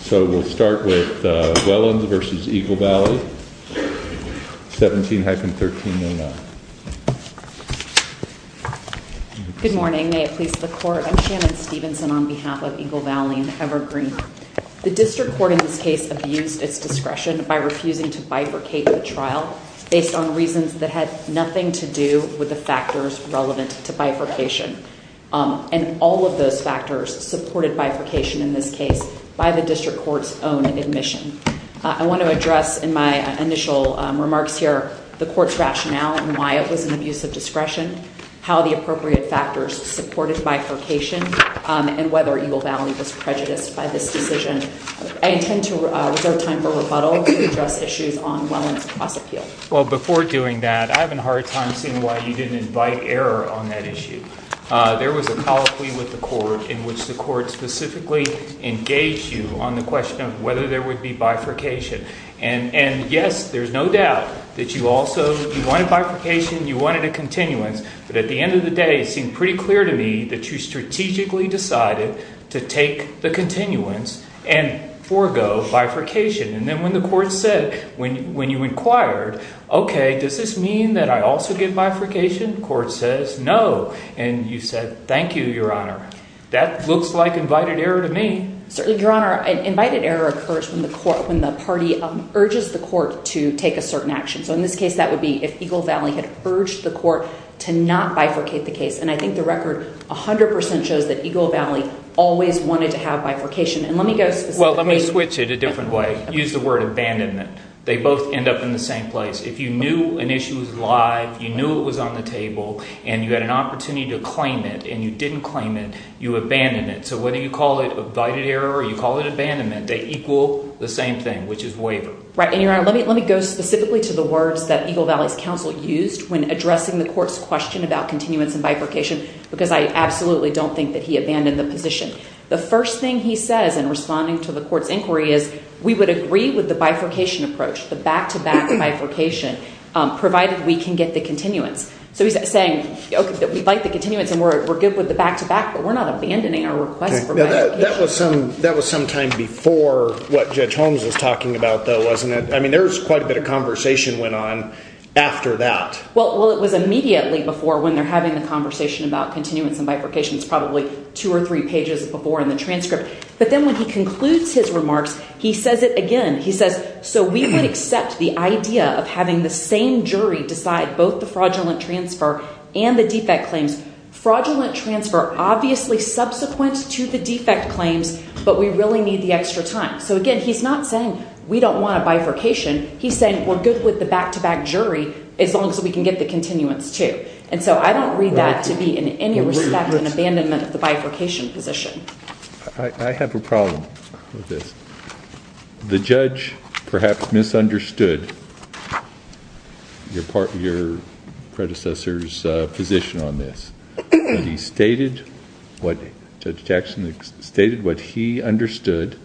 So we'll start with Wellons v. Eagle Valley, 17-1309. Good morning, may it please the court. I'm Shannon Stephenson on behalf of Eagle Valley and Evergreen. The district court in this case abused its discretion by refusing to bifurcate the trial based on reasons that had nothing to do with the factors relevant to bifurcation. And all of those factors supported bifurcation in this case by the district court's own admission. I want to address in my initial remarks here the court's rationale and why it was an abuse of discretion, how the appropriate factors supported bifurcation, and whether Eagle Valley was prejudiced by this decision. I intend to reserve time for rebuttal to address issues on Wellons' cross-appeal. Well, before doing that, I have a hard time seeing why you didn't invite error on that issue. There was a colloquy with the court in which the court specifically engaged you on the question of whether there would be bifurcation. And yes, there's no doubt that you also wanted bifurcation, you wanted a continuance, but at the end of the day it seemed pretty clear to me that you strategically decided to take the continuance and forego bifurcation. And then when the court said – when you inquired, okay, does this mean that I also get bifurcation? The court says no, and you said thank you, Your Honor. That looks like invited error to me. Certainly, Your Honor. Invited error occurs when the court – when the party urges the court to take a certain action. So in this case that would be if Eagle Valley had urged the court to not bifurcate the case. And I think the record 100 percent shows that Eagle Valley always wanted to have bifurcation. And let me go – Well, let me switch it a different way. Use the word abandonment. They both end up in the same place. If you knew an issue was live, you knew it was on the table, and you had an opportunity to claim it, and you didn't claim it, you abandon it. So whether you call it invited error or you call it abandonment, they equal the same thing, which is waiver. Right. And, Your Honor, let me go specifically to the words that Eagle Valley's counsel used when addressing the court's question about continuance and bifurcation because I absolutely don't think that he abandoned the position. The first thing he says in responding to the court's inquiry is we would agree with the bifurcation approach, the back-to-back bifurcation, provided we can get the continuance. So he's saying, okay, we'd like the continuance and we're good with the back-to-back, but we're not abandoning our request for bifurcation. That was some time before what Judge Holmes was talking about, though, wasn't it? I mean there was quite a bit of conversation went on after that. Well, it was immediately before when they're having the conversation about continuance and bifurcation. It's probably two or three pages before in the transcript. But then when he concludes his remarks, he says it again. He says, so we would accept the idea of having the same jury decide both the fraudulent transfer and the defect claims. Fraudulent transfer, obviously subsequent to the defect claims, but we really need the extra time. So, again, he's not saying we don't want a bifurcation. He's saying we're good with the back-to-back jury as long as we can get the continuance, too. And so I don't read that to be in any respect an abandonment of the bifurcation position. I have a problem with this. The judge perhaps misunderstood your predecessor's position on this. He stated what Judge Jackson stated what he understood,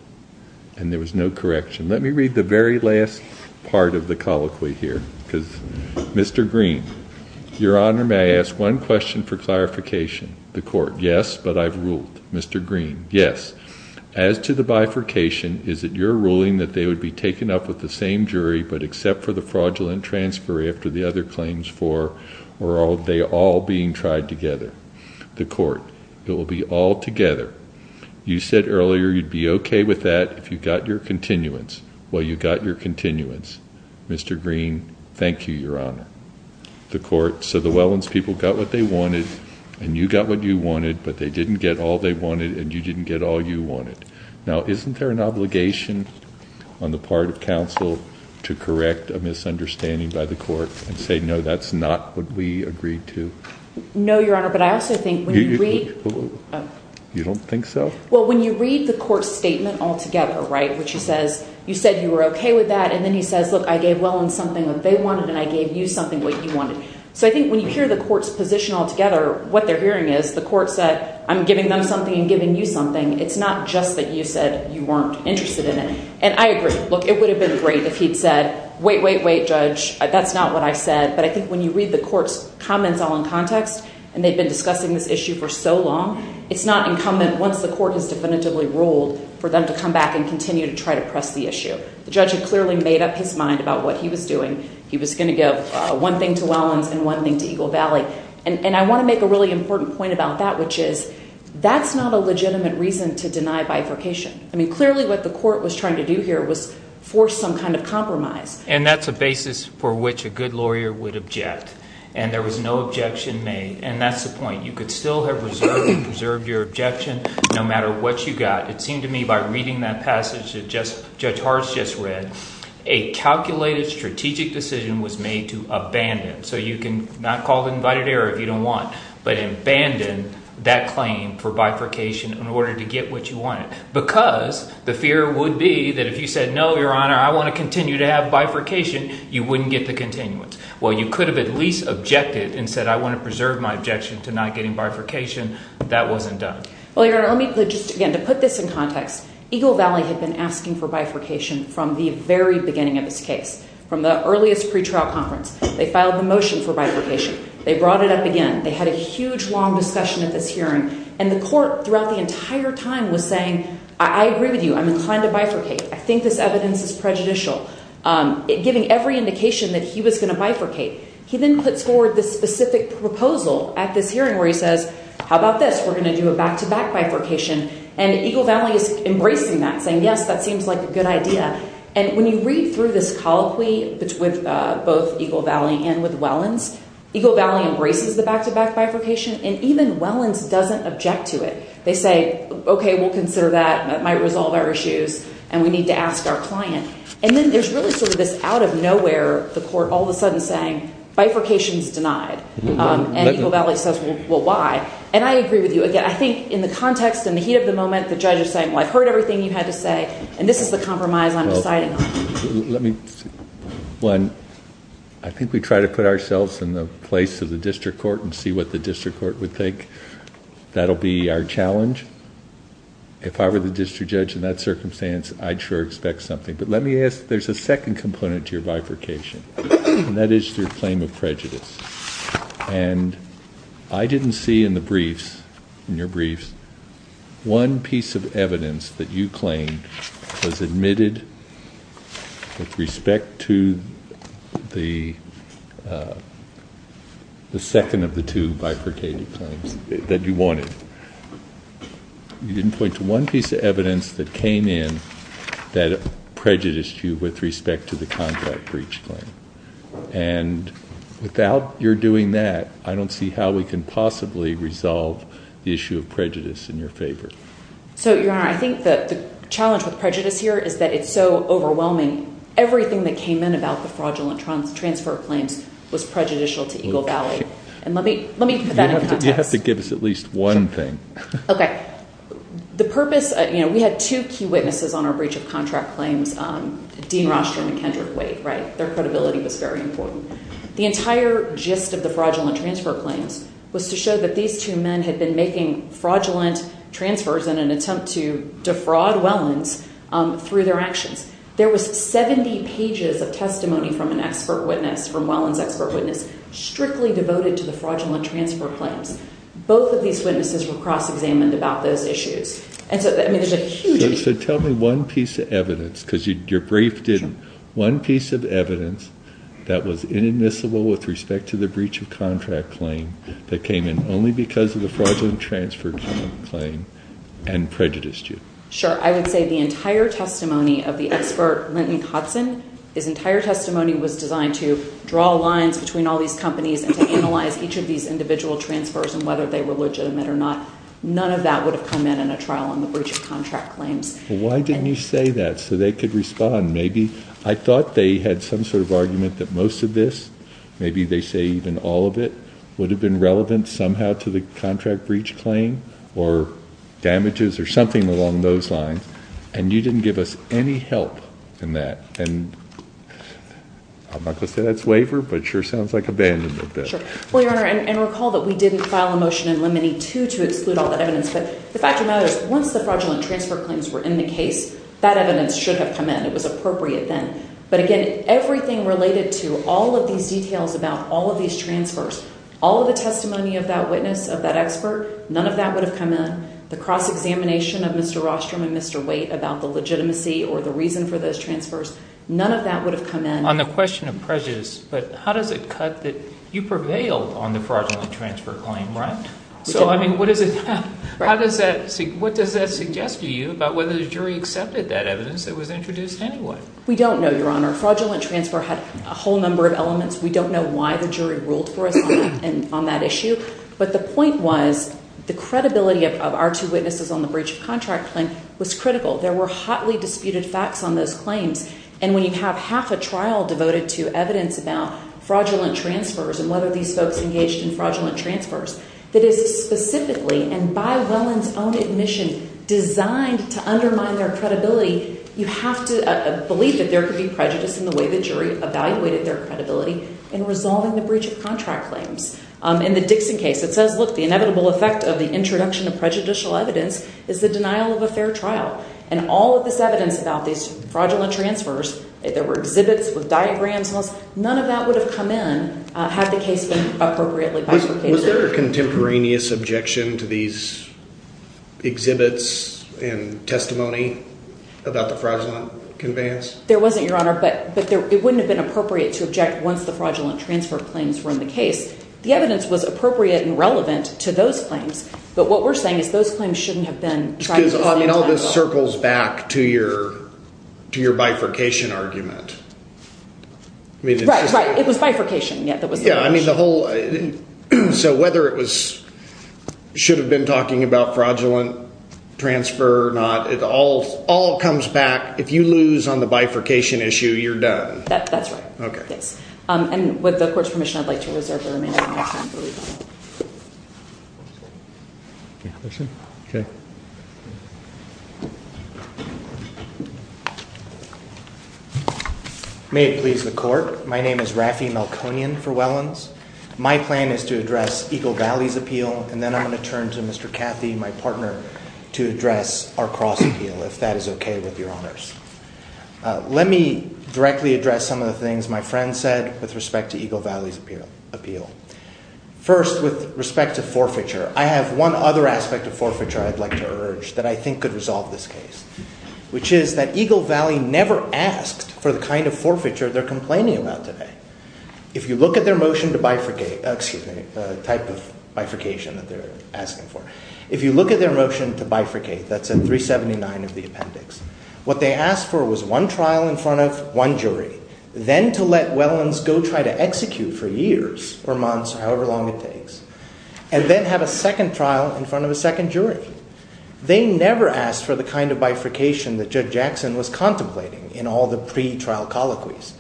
and there was no correction. Let me read the very last part of the colloquy here. Mr. Green, Your Honor, may I ask one question for clarification? The court, yes, but I've ruled. Mr. Green, yes. As to the bifurcation, is it your ruling that they would be taken up with the same jury, but except for the fraudulent transfer after the other claims, or are they all being tried together? The court, it will be all together. You said earlier you'd be okay with that if you got your continuance. Well, you got your continuance. Mr. Green, thank you, Your Honor. The court, so the Wellands people got what they wanted, and you got what you wanted, but they didn't get all they wanted, and you didn't get all you wanted. Now, isn't there an obligation on the part of counsel to correct a misunderstanding by the court and say, no, that's not what we agreed to? No, Your Honor, but I also think when we— You don't think so? Well, when you read the court's statement all together, right, which he says, you said you were okay with that, and then he says, look, I gave Wellands something that they wanted and I gave you something that you wanted. So I think when you hear the court's position all together, what they're hearing is the court said, I'm giving them something and giving you something. It's not just that you said you weren't interested in it. And I agree. Look, it would have been great if he'd said, wait, wait, wait, Judge, that's not what I said. But I think when you read the court's comments all in context, and they've been discussing this issue for so long, it's not incumbent once the court has definitively ruled for them to come back and continue to try to press the issue. The judge had clearly made up his mind about what he was doing. He was going to give one thing to Wellands and one thing to Eagle Valley. And I want to make a really important point about that, which is that's not a legitimate reason to deny bifurcation. I mean, clearly what the court was trying to do here was force some kind of compromise. And that's a basis for which a good lawyer would object. And there was no objection made. And that's the point. You could still have preserved your objection no matter what you got. It seemed to me by reading that passage that Judge Hartz just read, a calculated strategic decision was made to abandon. So you can not call it an invited error if you don't want, but abandon that claim for bifurcation in order to get what you wanted. Because the fear would be that if you said no, Your Honor, I want to continue to have bifurcation, you wouldn't get the continuance. Well, you could have at least objected and said I want to preserve my objection to not getting bifurcation. That wasn't done. Well, Your Honor, let me put just again to put this in context. Eagle Valley had been asking for bifurcation from the very beginning of this case, from the earliest pretrial conference. They filed the motion for bifurcation. They brought it up again. They had a huge, long discussion at this hearing. And the court throughout the entire time was saying, I agree with you. I'm inclined to bifurcate. I think this evidence is prejudicial, giving every indication that he was going to bifurcate. He then puts forward this specific proposal at this hearing where he says, how about this? We're going to do a back-to-back bifurcation. And Eagle Valley is embracing that, saying, yes, that seems like a good idea. And when you read through this colloquy with both Eagle Valley and with Wellens, Eagle Valley embraces the back-to-back bifurcation. And even Wellens doesn't object to it. They say, OK, we'll consider that. That might resolve our issues. And we need to ask our client. And then there's really sort of this out-of-nowhere, the court all of a sudden saying bifurcation is denied. And Eagle Valley says, well, why? And I agree with you. Again, I think in the context, in the heat of the moment, the judge is saying, well, I've heard everything you had to say. And this is the compromise I'm deciding on. Let me, one, I think we try to put ourselves in the place of the district court and see what the district court would think. That'll be our challenge. If I were the district judge in that circumstance, I'd sure expect something. But let me ask, there's a second component to your bifurcation, and that is your claim of prejudice. And I didn't see in the briefs, in your briefs, one piece of evidence that you claimed was admitted with respect to the second of the two bifurcated claims that you wanted. You didn't point to one piece of evidence that came in that prejudiced you with respect to the contract breach claim. And without your doing that, I don't see how we can possibly resolve the issue of prejudice in your favor. So, Your Honor, I think the challenge with prejudice here is that it's so overwhelming. Everything that came in about the fraudulent transfer of claims was prejudicial to Eagle Valley. And let me put that in context. You have to give us at least one thing. Okay. The purpose, you know, we had two key witnesses on our breach of contract claims, Dean Rostrom and Kendrick Wade, right? Their credibility was very important. The entire gist of the fraudulent transfer claims was to show that these two men had been making fraudulent transfers in an attempt to defraud Welland's through their actions. There was 70 pages of testimony from an expert witness, from Welland's expert witness, strictly devoted to the fraudulent transfer claims. Both of these witnesses were cross-examined about those issues. And so, I mean, there's a huge… So tell me one piece of evidence because your brief didn't. One piece of evidence that was inadmissible with respect to the breach of contract claim that came in only because of the fraudulent transfer claim and prejudiced you. Sure. I would say the entire testimony of the expert, Linton Hudson, his entire testimony was designed to draw lines between all these companies and to analyze each of these individual transfers and whether they were legitimate or not. None of that would have come in in a trial on the breach of contract claims. Why didn't you say that so they could respond? I thought they had some sort of argument that most of this, maybe they say even all of it, would have been relevant somehow to the contract breach claim or damages or something along those lines. And you didn't give us any help in that. And I'm not going to say that's waiver, but it sure sounds like abandonment. Well, Your Honor, and recall that we didn't file a motion in Lemony 2 to exclude all that evidence. But the fact of the matter is once the fraudulent transfer claims were in the case, that evidence should have come in. It was appropriate then. But again, everything related to all of these details about all of these transfers, all of the testimony of that witness, of that expert, none of that would have come in. The cross-examination of Mr. Rostrom and Mr. Waite about the legitimacy or the reason for those transfers, none of that would have come in. On the question of prejudice, but how does it cut that you prevailed on the fraudulent transfer claim, right? So, I mean, what does that suggest to you about whether the jury accepted that evidence that was introduced anyway? We don't know, Your Honor. Fraudulent transfer had a whole number of elements. We don't know why the jury ruled for us on that issue. But the point was the credibility of our two witnesses on the breach of contract claim was critical. There were hotly disputed facts on those claims. And when you have half a trial devoted to evidence about fraudulent transfers and whether these folks engaged in fraudulent transfers, that is specifically and by Welland's own admission designed to undermine their credibility, you have to believe that there could be prejudice in the way the jury evaluated their credibility in resolving the breach of contract claims. In the Dixon case, it says, look, the inevitable effect of the introduction of prejudicial evidence is the denial of a fair trial. And all of this evidence about these fraudulent transfers, there were exhibits with diagrams and all this, none of that would have come in had the case been appropriately bifurcated. Was there a contemporaneous objection to these exhibits and testimony about the fraudulent conveyance? There wasn't, Your Honor, but it wouldn't have been appropriate to object once the fraudulent transfer claims were in the case. The evidence was appropriate and relevant to those claims. But what we're saying is those claims shouldn't have been tried. Because, I mean, all this circles back to your bifurcation argument. Right, right. It was bifurcation. Yeah, I mean, the whole – so whether it was – should have been talking about fraudulent transfer or not, it all comes back. If you lose on the bifurcation issue, you're done. That's right. Okay. And with the court's permission, I'd like to reserve the remaining time. Okay. May it please the court. My name is Raffy Melkonian for Wellands. My plan is to address Eagle Valley's appeal, and then I'm going to turn to Mr. Cathy, my partner, to address our cross appeal, if that is okay with your honors. Let me directly address some of the things my friend said with respect to Eagle Valley's appeal. First, with respect to forfeiture, I have one other aspect of forfeiture I'd like to urge that I think could resolve this case, which is that Eagle Valley never asked for the kind of forfeiture they're complaining about today. If you look at their motion to bifurcate – excuse me, the type of bifurcation that they're asking for. If you look at their motion to bifurcate, that's at 379 of the appendix, what they asked for was one trial in front of one jury, then to let Wellands go try to execute for years or months or however long it takes, and then have a second trial in front of a second jury. They never asked for the kind of bifurcation that Judge Jackson was contemplating in all the pre-trial colloquies.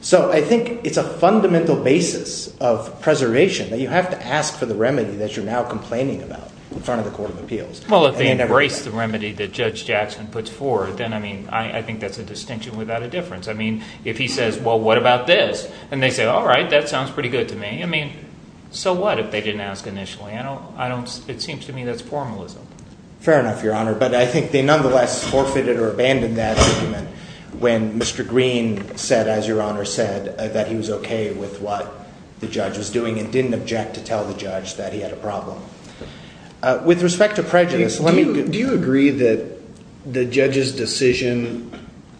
So I think it's a fundamental basis of preservation that you have to ask for the remedy that you're now complaining about in front of the court of appeals. Well, if they embrace the remedy that Judge Jackson puts forward, then I mean I think that's a distinction without a difference. I mean if he says, well, what about this? And they say, all right, that sounds pretty good to me. I mean so what if they didn't ask initially? I don't – it seems to me that's formalism. Fair enough, Your Honor, but I think they nonetheless forfeited or abandoned that argument when Mr. Green said, as Your Honor said, that he was okay with what the judge was doing and didn't object to tell the judge that he had a problem. With respect to prejudice, let me – Do you agree that the judge's decision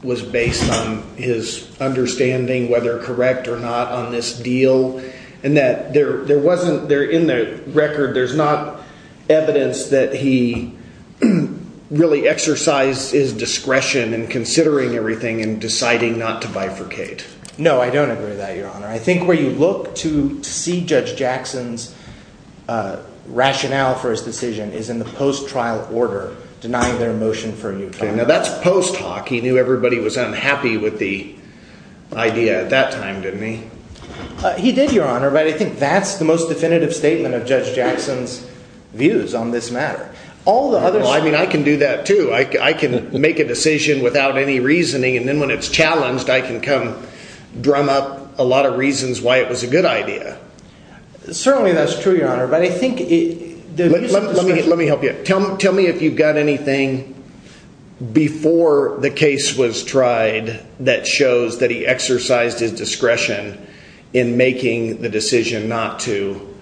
was based on his understanding whether correct or not on this deal and that there wasn't – in the record there's not evidence that he really exercised his discretion in considering everything and deciding not to bifurcate? No, I don't agree with that, Your Honor. I think where you look to see Judge Jackson's rationale for his decision is in the post-trial order denying their motion for a new trial. Okay, now that's post-talk. He knew everybody was unhappy with the idea at that time, didn't he? He did, Your Honor, but I think that's the most definitive statement of Judge Jackson's views on this matter. All the others – Well, I mean I can do that too. I can make a decision without any reasoning and then when it's challenged I can come drum up a lot of reasons why it was a good idea. Certainly that's true, Your Honor, but I think – Let me help you. Tell me if you've got anything before the case was tried that shows that he exercised his discretion in making the decision not to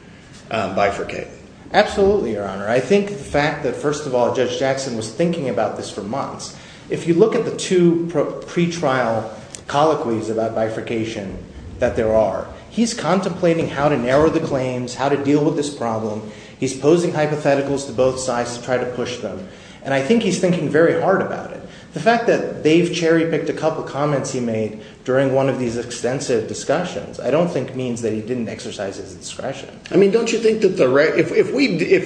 bifurcate. Absolutely, Your Honor. I think the fact that, first of all, Judge Jackson was thinking about this for months. If you look at the two pretrial colloquies about bifurcation that there are, he's contemplating how to narrow the claims, how to deal with this problem. He's posing hypotheticals to both sides to try to push them, and I think he's thinking very hard about it. The fact that Dave Cherry picked a couple of comments he made during one of these extensive discussions I don't think means that he didn't exercise his discretion. I mean don't you think that the – if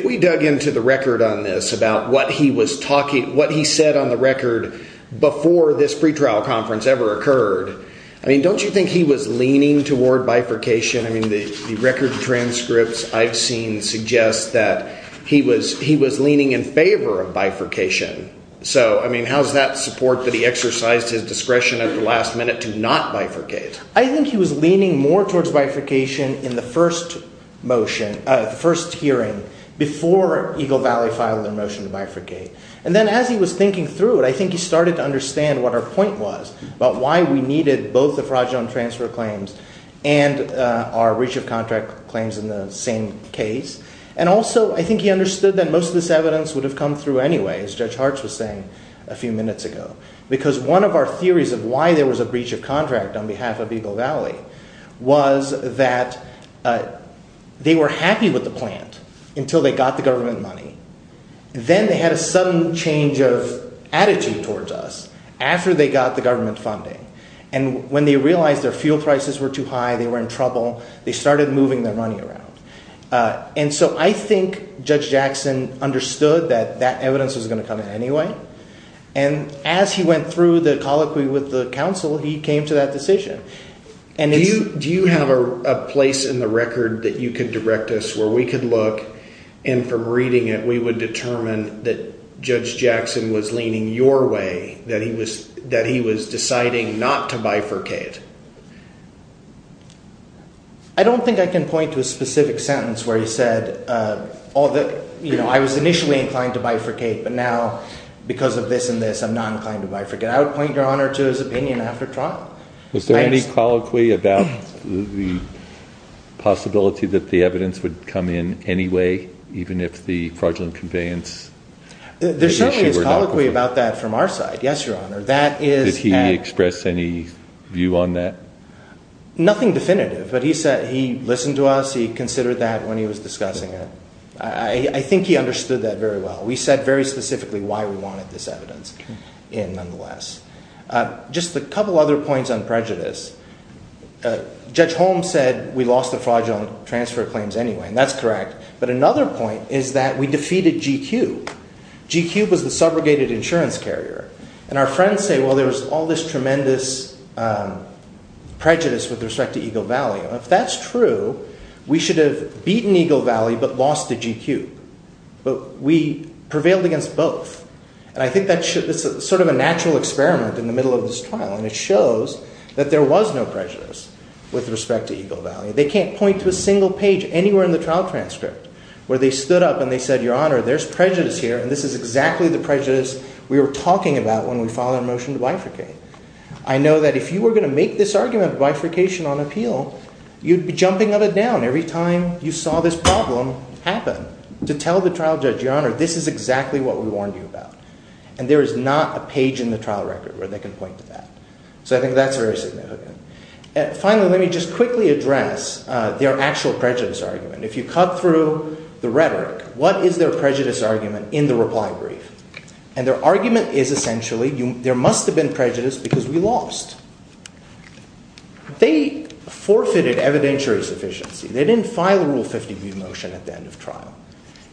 we dug into the record on this about what he was talking – what he said on the record before this pretrial conference ever occurred, I mean don't you think he was leaning toward bifurcation? I mean the record transcripts I've seen suggest that he was leaning in favor of bifurcation. So I mean how's that support that he exercised his discretion at the last minute to not bifurcate? I think he was leaning more towards bifurcation in the first motion – the first hearing before Eagle Valley filed their motion to bifurcate. And then as he was thinking through it, I think he started to understand what our point was about why we needed both the fraudulent transfer claims and our breach of contract claims in the same case. And also I think he understood that most of this evidence would have come through anyway, as Judge Hartz was saying a few minutes ago, because one of our theories of why there was a breach of contract on behalf of Eagle Valley was that they were happy with the plant until they got the government money. Then they had a sudden change of attitude towards us after they got the government funding. And when they realized their fuel prices were too high, they were in trouble, they started moving their money around. And so I think Judge Jackson understood that that evidence was going to come in anyway. And as he went through the colloquy with the counsel, he came to that decision. Do you have a place in the record that you could direct us where we could look and from reading it we would determine that Judge Jackson was leaning your way, that he was deciding not to bifurcate? I don't think I can point to a specific sentence where he said, you know, I was initially inclined to bifurcate, but now because of this and this I'm not inclined to bifurcate. I would point, Your Honor, to his opinion after trial. Was there any colloquy about the possibility that the evidence would come in anyway, even if the fraudulent conveyance? There certainly is colloquy about that from our side, yes, Your Honor. Did he express any view on that? Nothing definitive, but he listened to us, he considered that when he was discussing it. I think he understood that very well. We said very specifically why we wanted this evidence in, nonetheless. Just a couple other points on prejudice. Judge Holmes said we lost the fraudulent transfer claims anyway, and that's correct. But another point is that we defeated GQ. GQ was the subrogated insurance carrier. And our friends say, well, there was all this tremendous prejudice with respect to Eagle Valley. If that's true, we should have beaten Eagle Valley but lost to GQ. But we prevailed against both. And I think that's sort of a natural experiment in the middle of this trial. And it shows that there was no prejudice with respect to Eagle Valley. They can't point to a single page anywhere in the trial transcript where they stood up and they said, Your Honor, there's prejudice here. And this is exactly the prejudice we were talking about when we filed our motion to bifurcate. I know that if you were going to make this argument of bifurcation on appeal, you'd be jumping on a down every time you saw this problem happen. To tell the trial judge, Your Honor, this is exactly what we warned you about. And there is not a page in the trial record where they can point to that. So I think that's very significant. Finally, let me just quickly address their actual prejudice argument. If you cut through the rhetoric, what is their prejudice argument in the reply brief? And their argument is essentially there must have been prejudice because we lost. They forfeited evidentiary sufficiency. They didn't file a Rule 50b motion at the end of trial.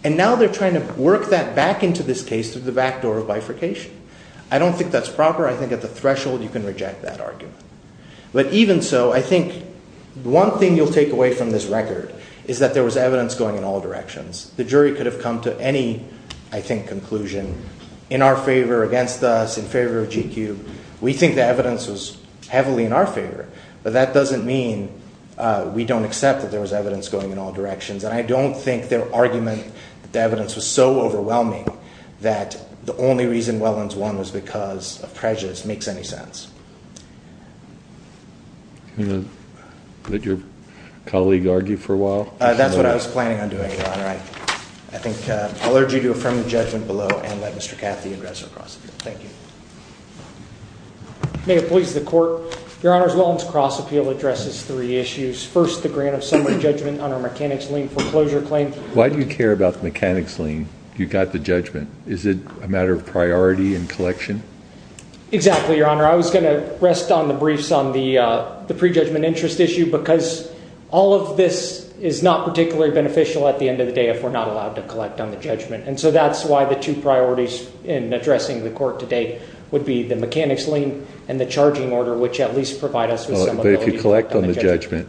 And now they're trying to work that back into this case through the backdoor of bifurcation. I don't think that's proper. I think at the threshold you can reject that argument. But even so, I think one thing you'll take away from this record is that there was evidence going in all directions. The jury could have come to any, I think, conclusion in our favor, against us, in favor of GQ. We think the evidence was heavily in our favor. But that doesn't mean we don't accept that there was evidence going in all directions. And I don't think their argument that the evidence was so overwhelming that the only reason Wellens won was because of prejudice makes any sense. Did your colleague argue for a while? That's what I was planning on doing, Your Honor. I think I'll urge you to affirm the judgment below and let Mr. Cathy address our cross-appeal. Thank you. May it please the Court. Your Honor, Wellens' cross-appeal addresses three issues. First, the grant of summary judgment on our mechanics lien foreclosure claim. Why do you care about the mechanics lien? You got the judgment. Is it a matter of priority and collection? Exactly, Your Honor. I was going to rest on the briefs on the prejudgment interest issue because all of this is not particularly beneficial at the end of the day if we're not allowed to collect on the judgment. And so that's why the two priorities in addressing the court today would be the mechanics lien and the charging order, which at least provide us with some ability to collect on the judgment.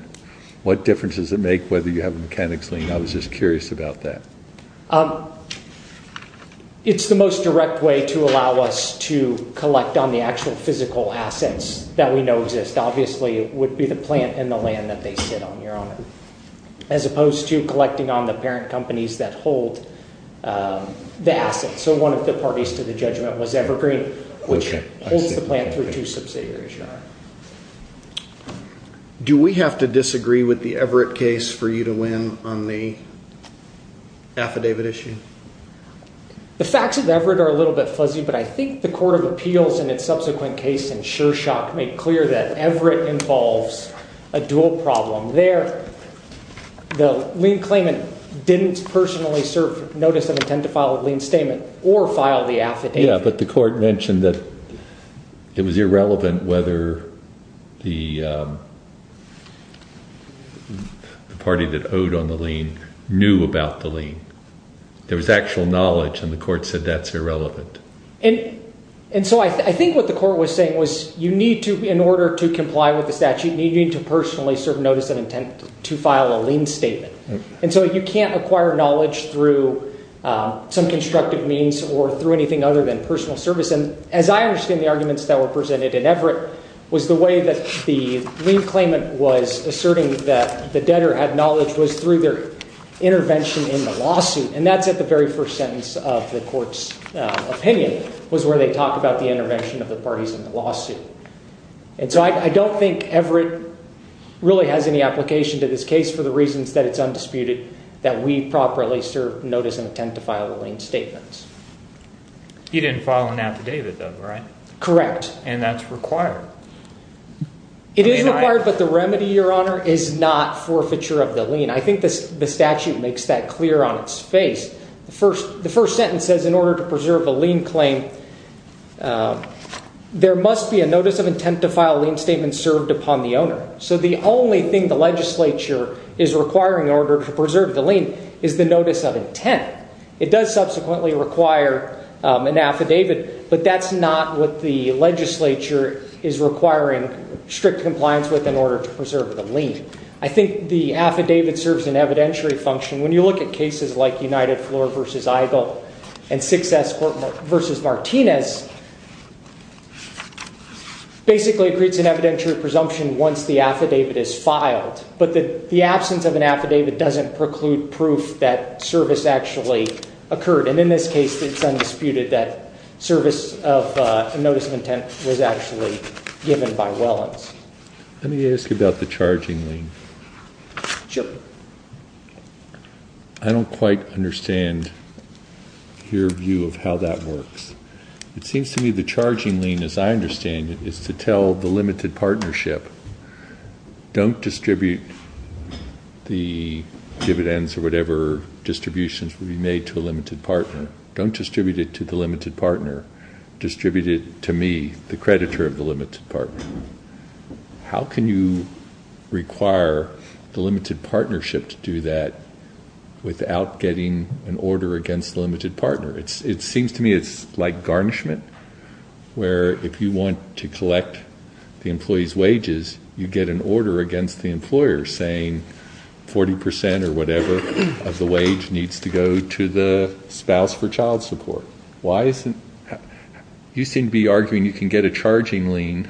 What difference does it make whether you have a mechanics lien? I was just curious about that. It's the most direct way to allow us to collect on the actual physical assets that we know exist. Obviously, it would be the plant and the land that they sit on, Your Honor, as opposed to collecting on the parent companies that hold the assets. So one of the parties to the judgment was Evergreen, which holds the plant through two subsidiaries, Your Honor. Do we have to disagree with the Everett case for you to win on the affidavit issue? The facts of Everett are a little bit fuzzy, but I think the court of appeals in its subsequent case in Shershock made clear that Everett involves a dual problem. There, the lien claimant didn't personally serve notice of intent to file a lien statement or file the affidavit. Yeah, but the court mentioned that it was irrelevant whether the party that owed on the lien knew about the lien. There was actual knowledge, and the court said that's irrelevant. And so I think what the court was saying was you need to, in order to comply with the statute, you need to personally serve notice of intent to file a lien statement. And so you can't acquire knowledge through some constructive means or through anything other than personal service. And as I understand the arguments that were presented in Everett was the way that the lien claimant was asserting that the debtor had knowledge was through their intervention in the lawsuit. And that's at the very first sentence of the court's opinion was where they talk about the intervention of the parties in the lawsuit. And so I don't think Everett really has any application to this case for the reasons that it's undisputed that we properly serve notice of intent to file a lien statement. You didn't file an affidavit, though, right? Correct. And that's required. It is required, but the remedy, Your Honor, is not forfeiture of the lien. I think the statute makes that clear on its face. The first sentence says in order to preserve the lien claim, there must be a notice of intent to file a lien statement served upon the owner. So the only thing the legislature is requiring in order to preserve the lien is the notice of intent. It does subsequently require an affidavit, but that's not what the legislature is requiring strict compliance with in order to preserve the lien. I think the affidavit serves an evidentiary function. When you look at cases like United Floor v. Eigle and Sixth Escort v. Martinez, basically it creates an evidentiary presumption once the affidavit is filed. But the absence of an affidavit doesn't preclude proof that service actually occurred. And in this case, it's undisputed that service of notice of intent was actually given by Wellens. Let me ask you about the charging lien. Chip? I don't quite understand your view of how that works. It seems to me the charging lien, as I understand it, is to tell the limited partnership, don't distribute the dividends or whatever distributions will be made to a limited partner. Don't distribute it to the limited partner. Distribute it to me, the creditor of the limited partner. How can you require the limited partnership to do that without getting an order against the limited partner? It seems to me it's like garnishment, where if you want to collect the employee's wages, you get an order against the employer saying 40 percent or whatever of the wage needs to go to the spouse for child support. You seem to be arguing you can get a charging lien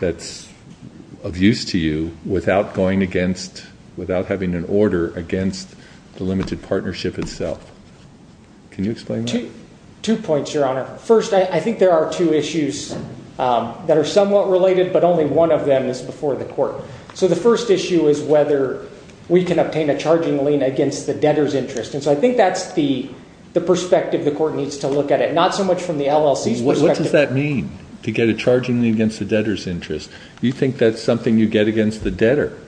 that's of use to you without having an order against the limited partnership itself. Can you explain that? Two points, Your Honor. First, I think there are two issues that are somewhat related, but only one of them is before the court. So the first issue is whether we can obtain a charging lien against the debtor's interest. And so I think that's the perspective the court needs to look at it, not so much from the LLC's perspective. What does that mean, to get a charging lien against the debtor's interest? You think that's something you get against the debtor.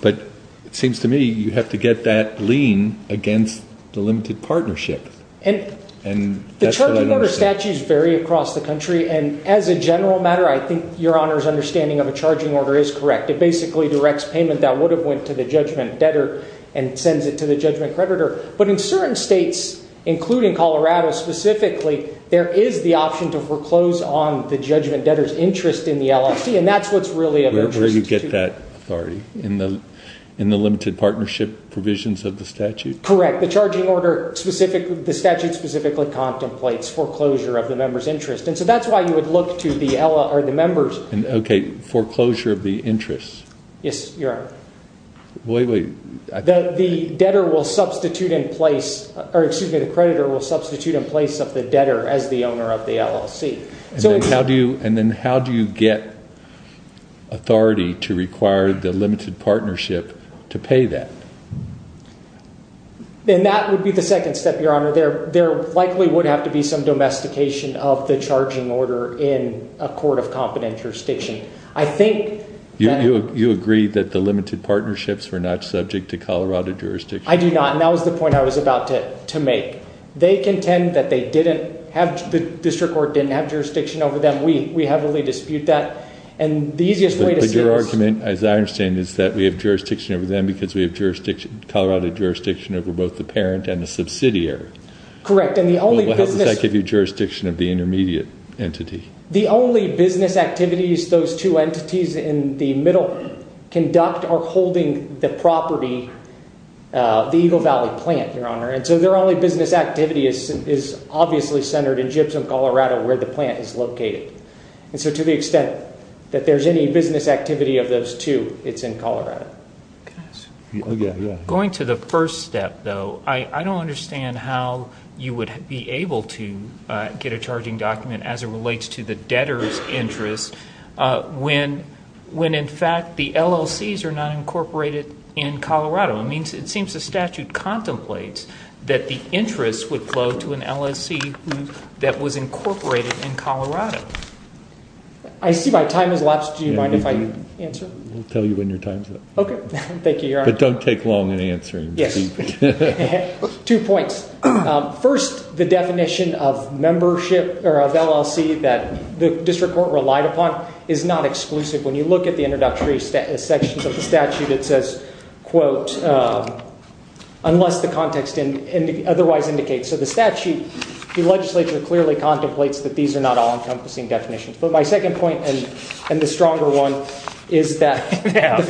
But it seems to me you have to get that lien against the limited partnership. And the charging order statutes vary across the country. And as a general matter, I think Your Honor's understanding of a charging order is correct. It basically directs payment that would have went to the judgment debtor and sends it to the judgment creditor. But in certain states, including Colorado specifically, there is the option to foreclose on the judgment debtor's interest in the LLC. And that's what's really of interest. Where do you get that authority? In the limited partnership provisions of the statute? Correct. The charging order, the statute specifically contemplates foreclosure of the member's interest. And so that's why you would look to the members. Okay, foreclosure of the interest. Yes, Your Honor. Wait, wait. The creditor will substitute in place of the debtor as the owner of the LLC. And then how do you get authority to require the limited partnership to pay that? And that would be the second step, Your Honor. There likely would have to be some domestication of the charging order in a court of competent jurisdiction. You agree that the limited partnerships were not subject to Colorado jurisdiction? I do not. And that was the point I was about to make. They contend that they didn't have, the district court didn't have jurisdiction over them. We heavily dispute that. And the easiest way to say this… But your argument, as I understand it, is that we have jurisdiction over them because we have Colorado jurisdiction over both the parent and the subsidiary. Correct. And the only business… Well, how does that give you jurisdiction of the intermediate entity? The only business activities those two entities in the middle conduct are holding the property, the Eagle Valley plant, Your Honor. And so their only business activity is obviously centered in Gibson, Colorado, where the plant is located. And so to the extent that there's any business activity of those two, it's in Colorado. Going to the first step, though, I don't understand how you would be able to get a charging document as it relates to the debtor's interest when, in fact, the LLCs are not incorporated in Colorado. It seems the statute contemplates that the interest would flow to an LLC that was incorporated in Colorado. I see my time has lapsed. Do you mind if I answer? We'll tell you when your time's up. Okay. Thank you, Your Honor. But don't take long in answering. Yes. Two points. First, the definition of membership or of LLC that the district court relied upon is not exclusive. When you look at the introductory sections of the statute, it says, quote, unless the context otherwise indicates. So the statute, the legislature clearly contemplates that these are not all encompassing definitions. But my second point and the stronger one is that the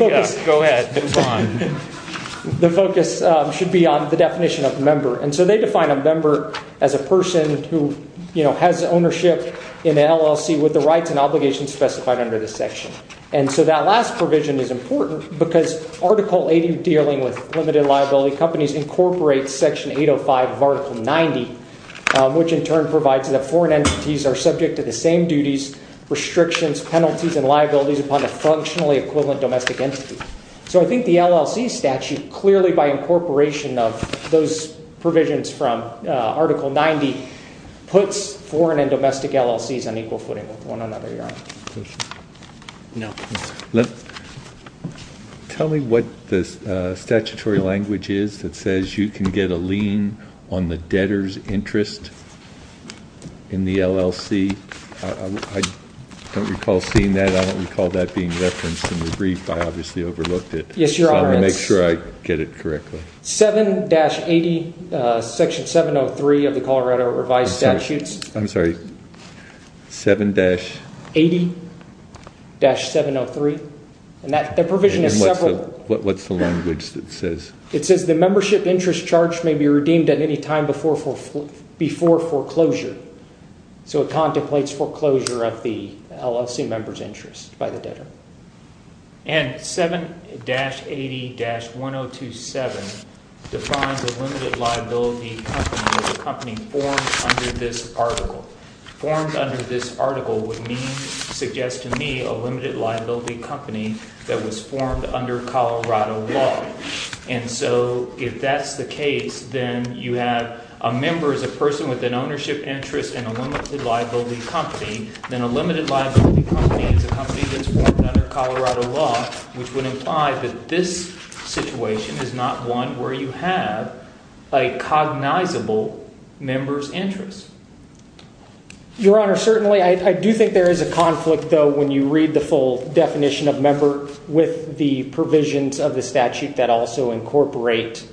focus should be on the definition of member. And so they define a member as a person who has ownership in an LLC with the rights and obligations specified under the section. And so that last provision is important because Article 80 dealing with limited liability companies incorporates Section 805 of Article 90, which in turn provides that foreign entities are subject to the same duties, restrictions, penalties, and liabilities upon a functionally equivalent domestic entity. So I think the LLC statute clearly, by incorporation of those provisions from Article 90, puts foreign and domestic LLCs on equal footing with one another, Your Honor. No. Tell me what the statutory language is that says you can get a lien on the debtor's interest in the LLC. I don't recall seeing that. I don't recall that being referenced in the brief. I obviously overlooked it. Yes, Your Honor. I want to make sure I get it correctly. 7-80, Section 703 of the Colorado Revised Statutes. I'm sorry. 7-80-703. And that provision is several. What's the language that says? It says the membership interest charge may be redeemed at any time before foreclosure. So it contemplates foreclosure of the LLC member's interest by the debtor. And 7-80-1027 defines a limited liability company as a company formed under this article. Formed under this article would suggest to me a limited liability company that was formed under Colorado law. And so if that's the case, then you have a member as a person with an ownership interest in a limited liability company. Then a limited liability company is a company that's formed under Colorado law, which would imply that this situation is not one where you have a cognizable member's interest. Your Honor, certainly I do think there is a conflict, though, when you read the full definition of member with the provisions of the statute that also incorporate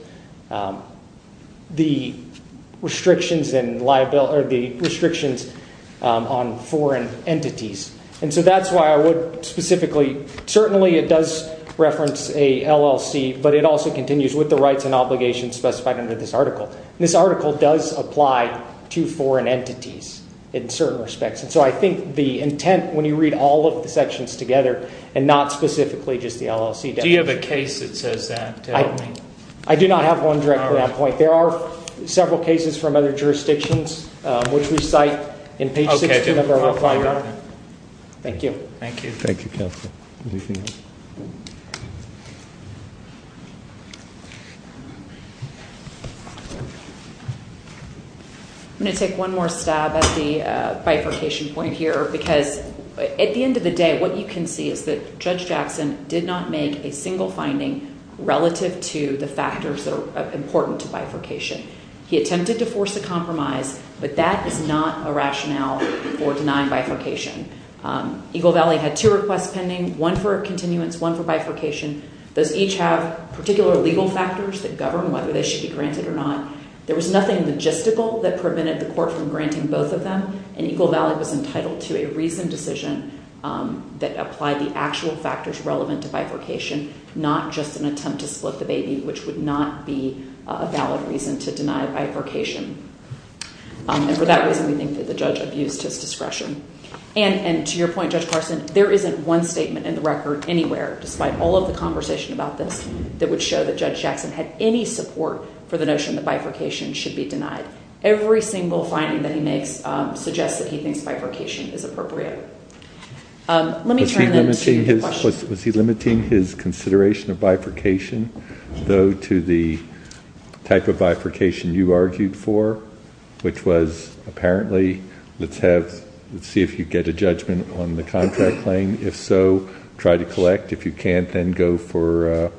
the restrictions on foreign entities. And so that's why I would specifically, certainly it does reference a LLC, but it also continues with the rights and obligations specified under this article. This article does apply to foreign entities in certain respects. And so I think the intent when you read all of the sections together and not specifically just the LLC. Do you have a case that says that? I do not have one direct to that point. There are several cases from other jurisdictions, which we cite in page six. Thank you. Thank you. I'm going to take one more stab at the bifurcation point here, because at the end of the day, what you can see is that Judge Jackson did not make a single finding relative to the factors that are important to bifurcation. He attempted to force a compromise, but that is not a rationale for denying bifurcation. Eagle Valley had two requests pending, one for continuance, one for bifurcation. Those each have particular legal factors that govern whether they should be granted or not. There was nothing logistical that prevented the court from granting both of them, and Eagle Valley was entitled to a reasoned decision that applied the actual factors relevant to bifurcation, not just an attempt to split the baby, which would not be a valid reason to deny bifurcation. And for that reason, we think that the judge abused his discretion. And to your point, Judge Carson, there isn't one statement in the record anywhere, despite all of the conversation about this, that would show that Judge Jackson had any support for the notion that bifurcation should be denied. Every single finding that he makes suggests that he thinks bifurcation is appropriate. Was he limiting his consideration of bifurcation, though, to the type of bifurcation you argued for, which was, apparently, let's see if you get a judgment on the contract claim. If so, try to collect. If you can't, then go for a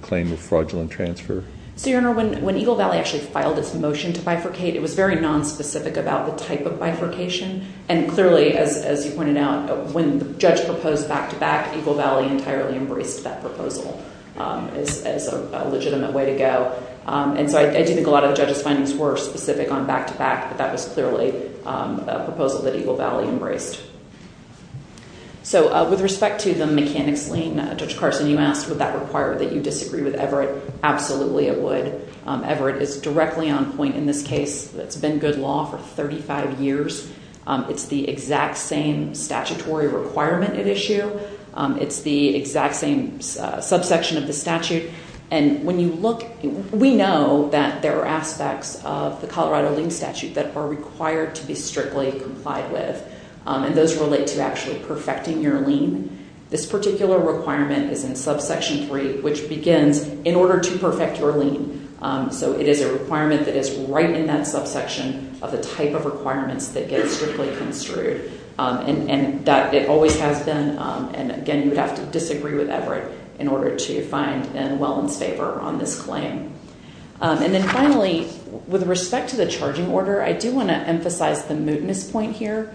claim of fraudulent transfer. So, Your Honor, when Eagle Valley actually filed its motion to bifurcate, it was very nonspecific about the type of bifurcation. And clearly, as you pointed out, when the judge proposed back-to-back, Eagle Valley entirely embraced that proposal as a legitimate way to go. And so I do think a lot of the judge's findings were specific on back-to-back, but that was clearly a proposal that Eagle Valley embraced. So with respect to the mechanics lien, Judge Carson, you asked would that require that you disagree with Everett. Absolutely, it would. Everett is directly on point in this case. It's been good law for 35 years. It's the exact same statutory requirement at issue. It's the exact same subsection of the statute. We know that there are aspects of the Colorado Lien Statute that are required to be strictly complied with. And those relate to actually perfecting your lien. This particular requirement is in subsection 3, which begins, in order to perfect your lien. So it is a requirement that is right in that subsection of the type of requirements that get strictly construed. And it always has been. And again, you would have to disagree with Everett in order to find in Welland's favor on this claim. And then finally, with respect to the charging order, I do want to emphasize the mootness point here.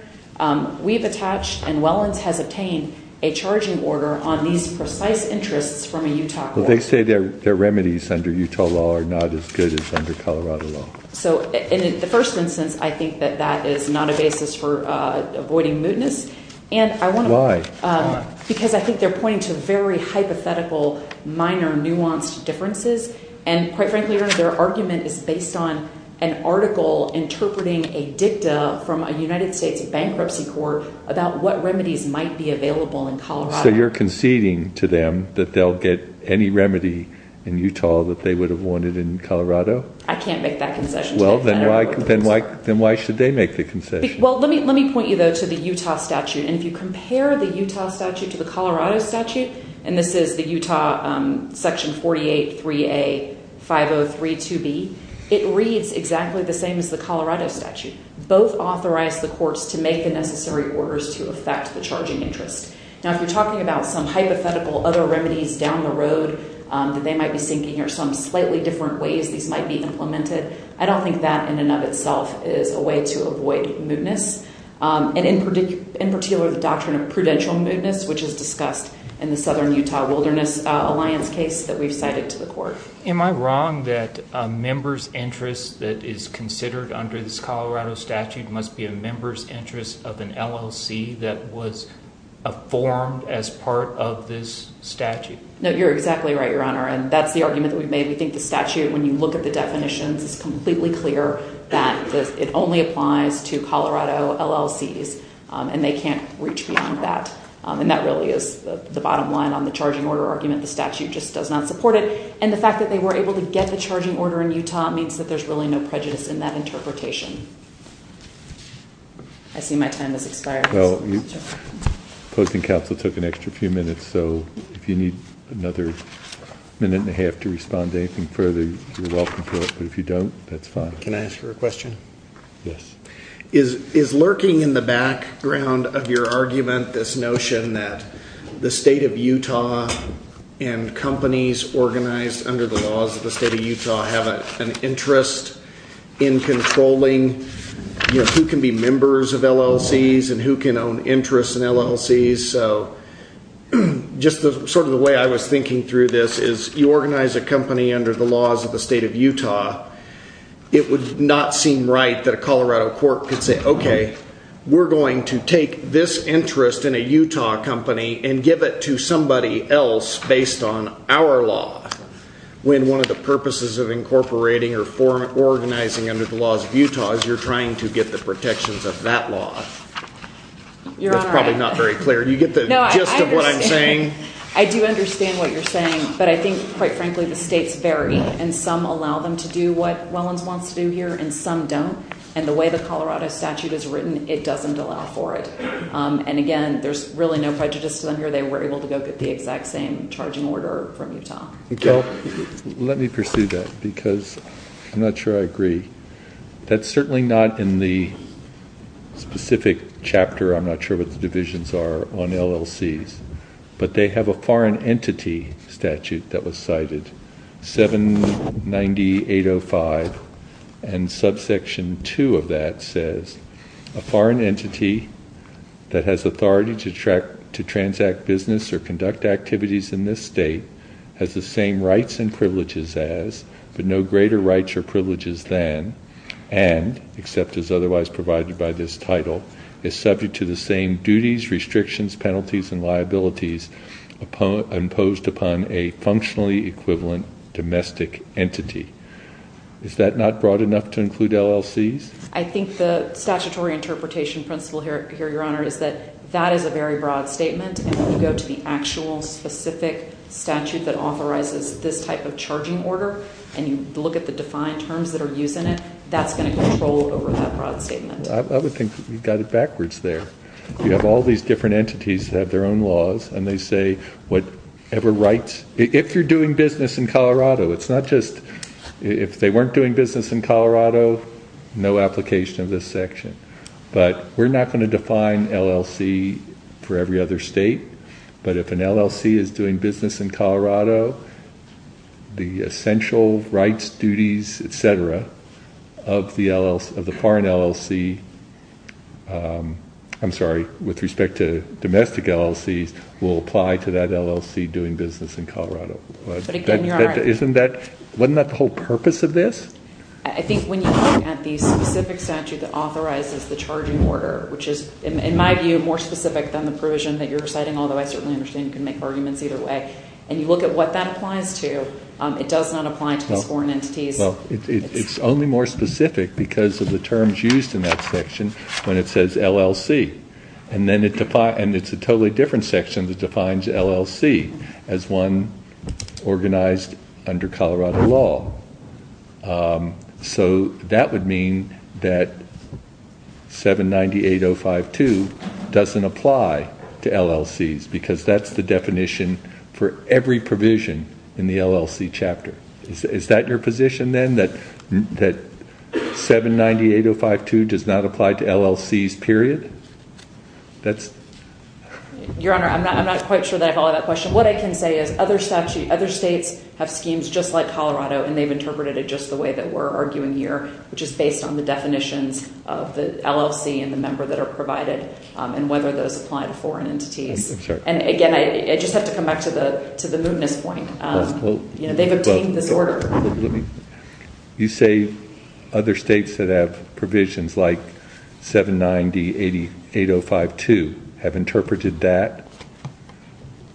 We've attached, and Welland's has obtained, a charging order on these precise interests from a Utah court. But they say their remedies under Utah law are not as good as under Colorado law. So in the first instance, I think that that is not a basis for avoiding mootness. Why? Because I think they're pointing to very hypothetical, minor, nuanced differences. And quite frankly, their argument is based on an article interpreting a dicta from a United States bankruptcy court about what remedies might be available in Colorado. So you're conceding to them that they'll get any remedy in Utah that they would have wanted in Colorado? I can't make that concession. Well, then why should they make the concession? Well, let me point you, though, to the Utah statute. And if you compare the Utah statute to the Colorado statute, and this is the Utah Section 48-3A-5032B, it reads exactly the same as the Colorado statute. Both authorize the courts to make the necessary orders to affect the charging interest. Now, if you're talking about some hypothetical other remedies down the road that they might be seeking or some slightly different ways these might be implemented, I don't think that in and of itself is a way to avoid mootness, and in particular the doctrine of prudential mootness, which is discussed in the Southern Utah Wilderness Alliance case that we've cited to the court. Am I wrong that a member's interest that is considered under this Colorado statute must be a member's interest of an LLC that was formed as part of this statute? No, you're exactly right, Your Honor, and that's the argument that we've made. We think the statute, when you look at the definitions, it's completely clear that it only applies to Colorado LLCs, and they can't reach beyond that. And that really is the bottom line on the charging order argument. The statute just does not support it. And the fact that they were able to get the charging order in Utah means that there's really no prejudice in that interpretation. I see my time has expired. Well, opposing counsel took an extra few minutes, so if you need another minute and a half to respond to anything further, you're welcome to, but if you don't, that's fine. Can I ask you a question? Yes. Is lurking in the background of your argument this notion that the state of Utah and companies organized under the laws of the state of Utah have an interest in controlling who can be members of LLCs and who can own interest in LLCs? Just sort of the way I was thinking through this is you organize a company under the laws of the state of Utah. It would not seem right that a Colorado court could say, okay, we're going to take this interest in a Utah company and give it to somebody else based on our law. When one of the purposes of incorporating or organizing under the laws of Utah is you're trying to get the protections of that law. That's probably not very clear. Do you get the gist of what I'm saying? I do understand what you're saying, but I think, quite frankly, the states vary, and some allow them to do what Wellens wants to do here and some don't. And the way the Colorado statute is written, it doesn't allow for it. And, again, there's really no prejudice to them here. They were able to go get the exact same charging order from Utah. Let me pursue that, because I'm not sure I agree. That's certainly not in the specific chapter. I'm not sure what the divisions are on LLCs, but they have a foreign entity statute that was cited, 790.805. And subsection 2 of that says, A foreign entity that has authority to transact business or conduct activities in this state has the same rights and privileges as, but no greater rights or privileges than, and, except as otherwise provided by this title, is subject to the same duties, restrictions, penalties, and liabilities imposed upon a functionally equivalent domestic entity. Is that not broad enough to include LLCs? I think the statutory interpretation principle here, Your Honor, is that that is a very broad statement. And when you go to the actual specific statute that authorizes this type of charging order, and you look at the defined terms that are used in it, that's going to control over that broad statement. I would think you got it backwards there. You have all these different entities that have their own laws, and they say whatever rights. If you're doing business in Colorado, it's not just, if they weren't doing business in Colorado, no application of this section. But we're not going to define LLC for every other state. But if an LLC is doing business in Colorado, the essential rights, duties, et cetera, of the foreign LLC, I'm sorry, with respect to domestic LLCs, will apply to that LLC doing business in Colorado. But again, Your Honor. Isn't that, wasn't that the whole purpose of this? I think when you look at the specific statute that authorizes the charging order, which is, in my view, more specific than the provision that you're citing, although I certainly understand you can make arguments either way, and you look at what that applies to, it does not apply to these foreign entities. It's only more specific because of the terms used in that section when it says LLC. And it's a totally different section that defines LLC as one organized under Colorado law. So that would mean that 790.8052 doesn't apply to LLCs because that's the definition for every provision in the LLC chapter. Is that your position then, that 790.8052 does not apply to LLCs, period? Your Honor, I'm not quite sure that I follow that question. What I can say is other statutes, other states have schemes just like Colorado, and they've interpreted it just the way that we're arguing here, which is based on the definitions of the LLC and the member that are provided and whether those apply to foreign entities. And again, I just have to come back to the mootness point. They've obtained this order. You say other states that have provisions like 790.8052 have interpreted that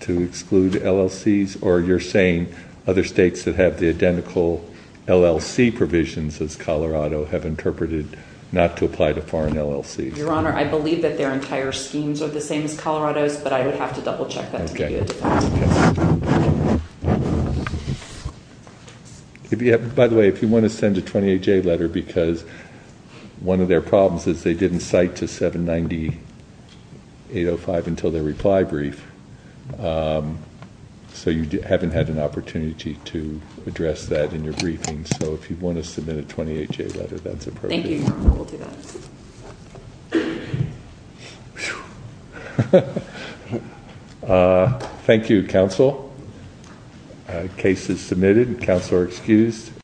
to exclude LLCs, or you're saying other states that have the identical LLC provisions as Colorado have interpreted not to apply to foreign LLCs? Your Honor, I believe that their entire schemes are the same as Colorado's, but I would have to double check that to be sure. By the way, if you want to send a 28-J letter, because one of their problems is they didn't cite to 790.805 until their reply brief, so you haven't had an opportunity to address that in your briefing. So if you want to submit a 28-J letter, that's appropriate. Thank you, Your Honor. We'll do that. Thank you, counsel. Case is submitted. Counsel are excused.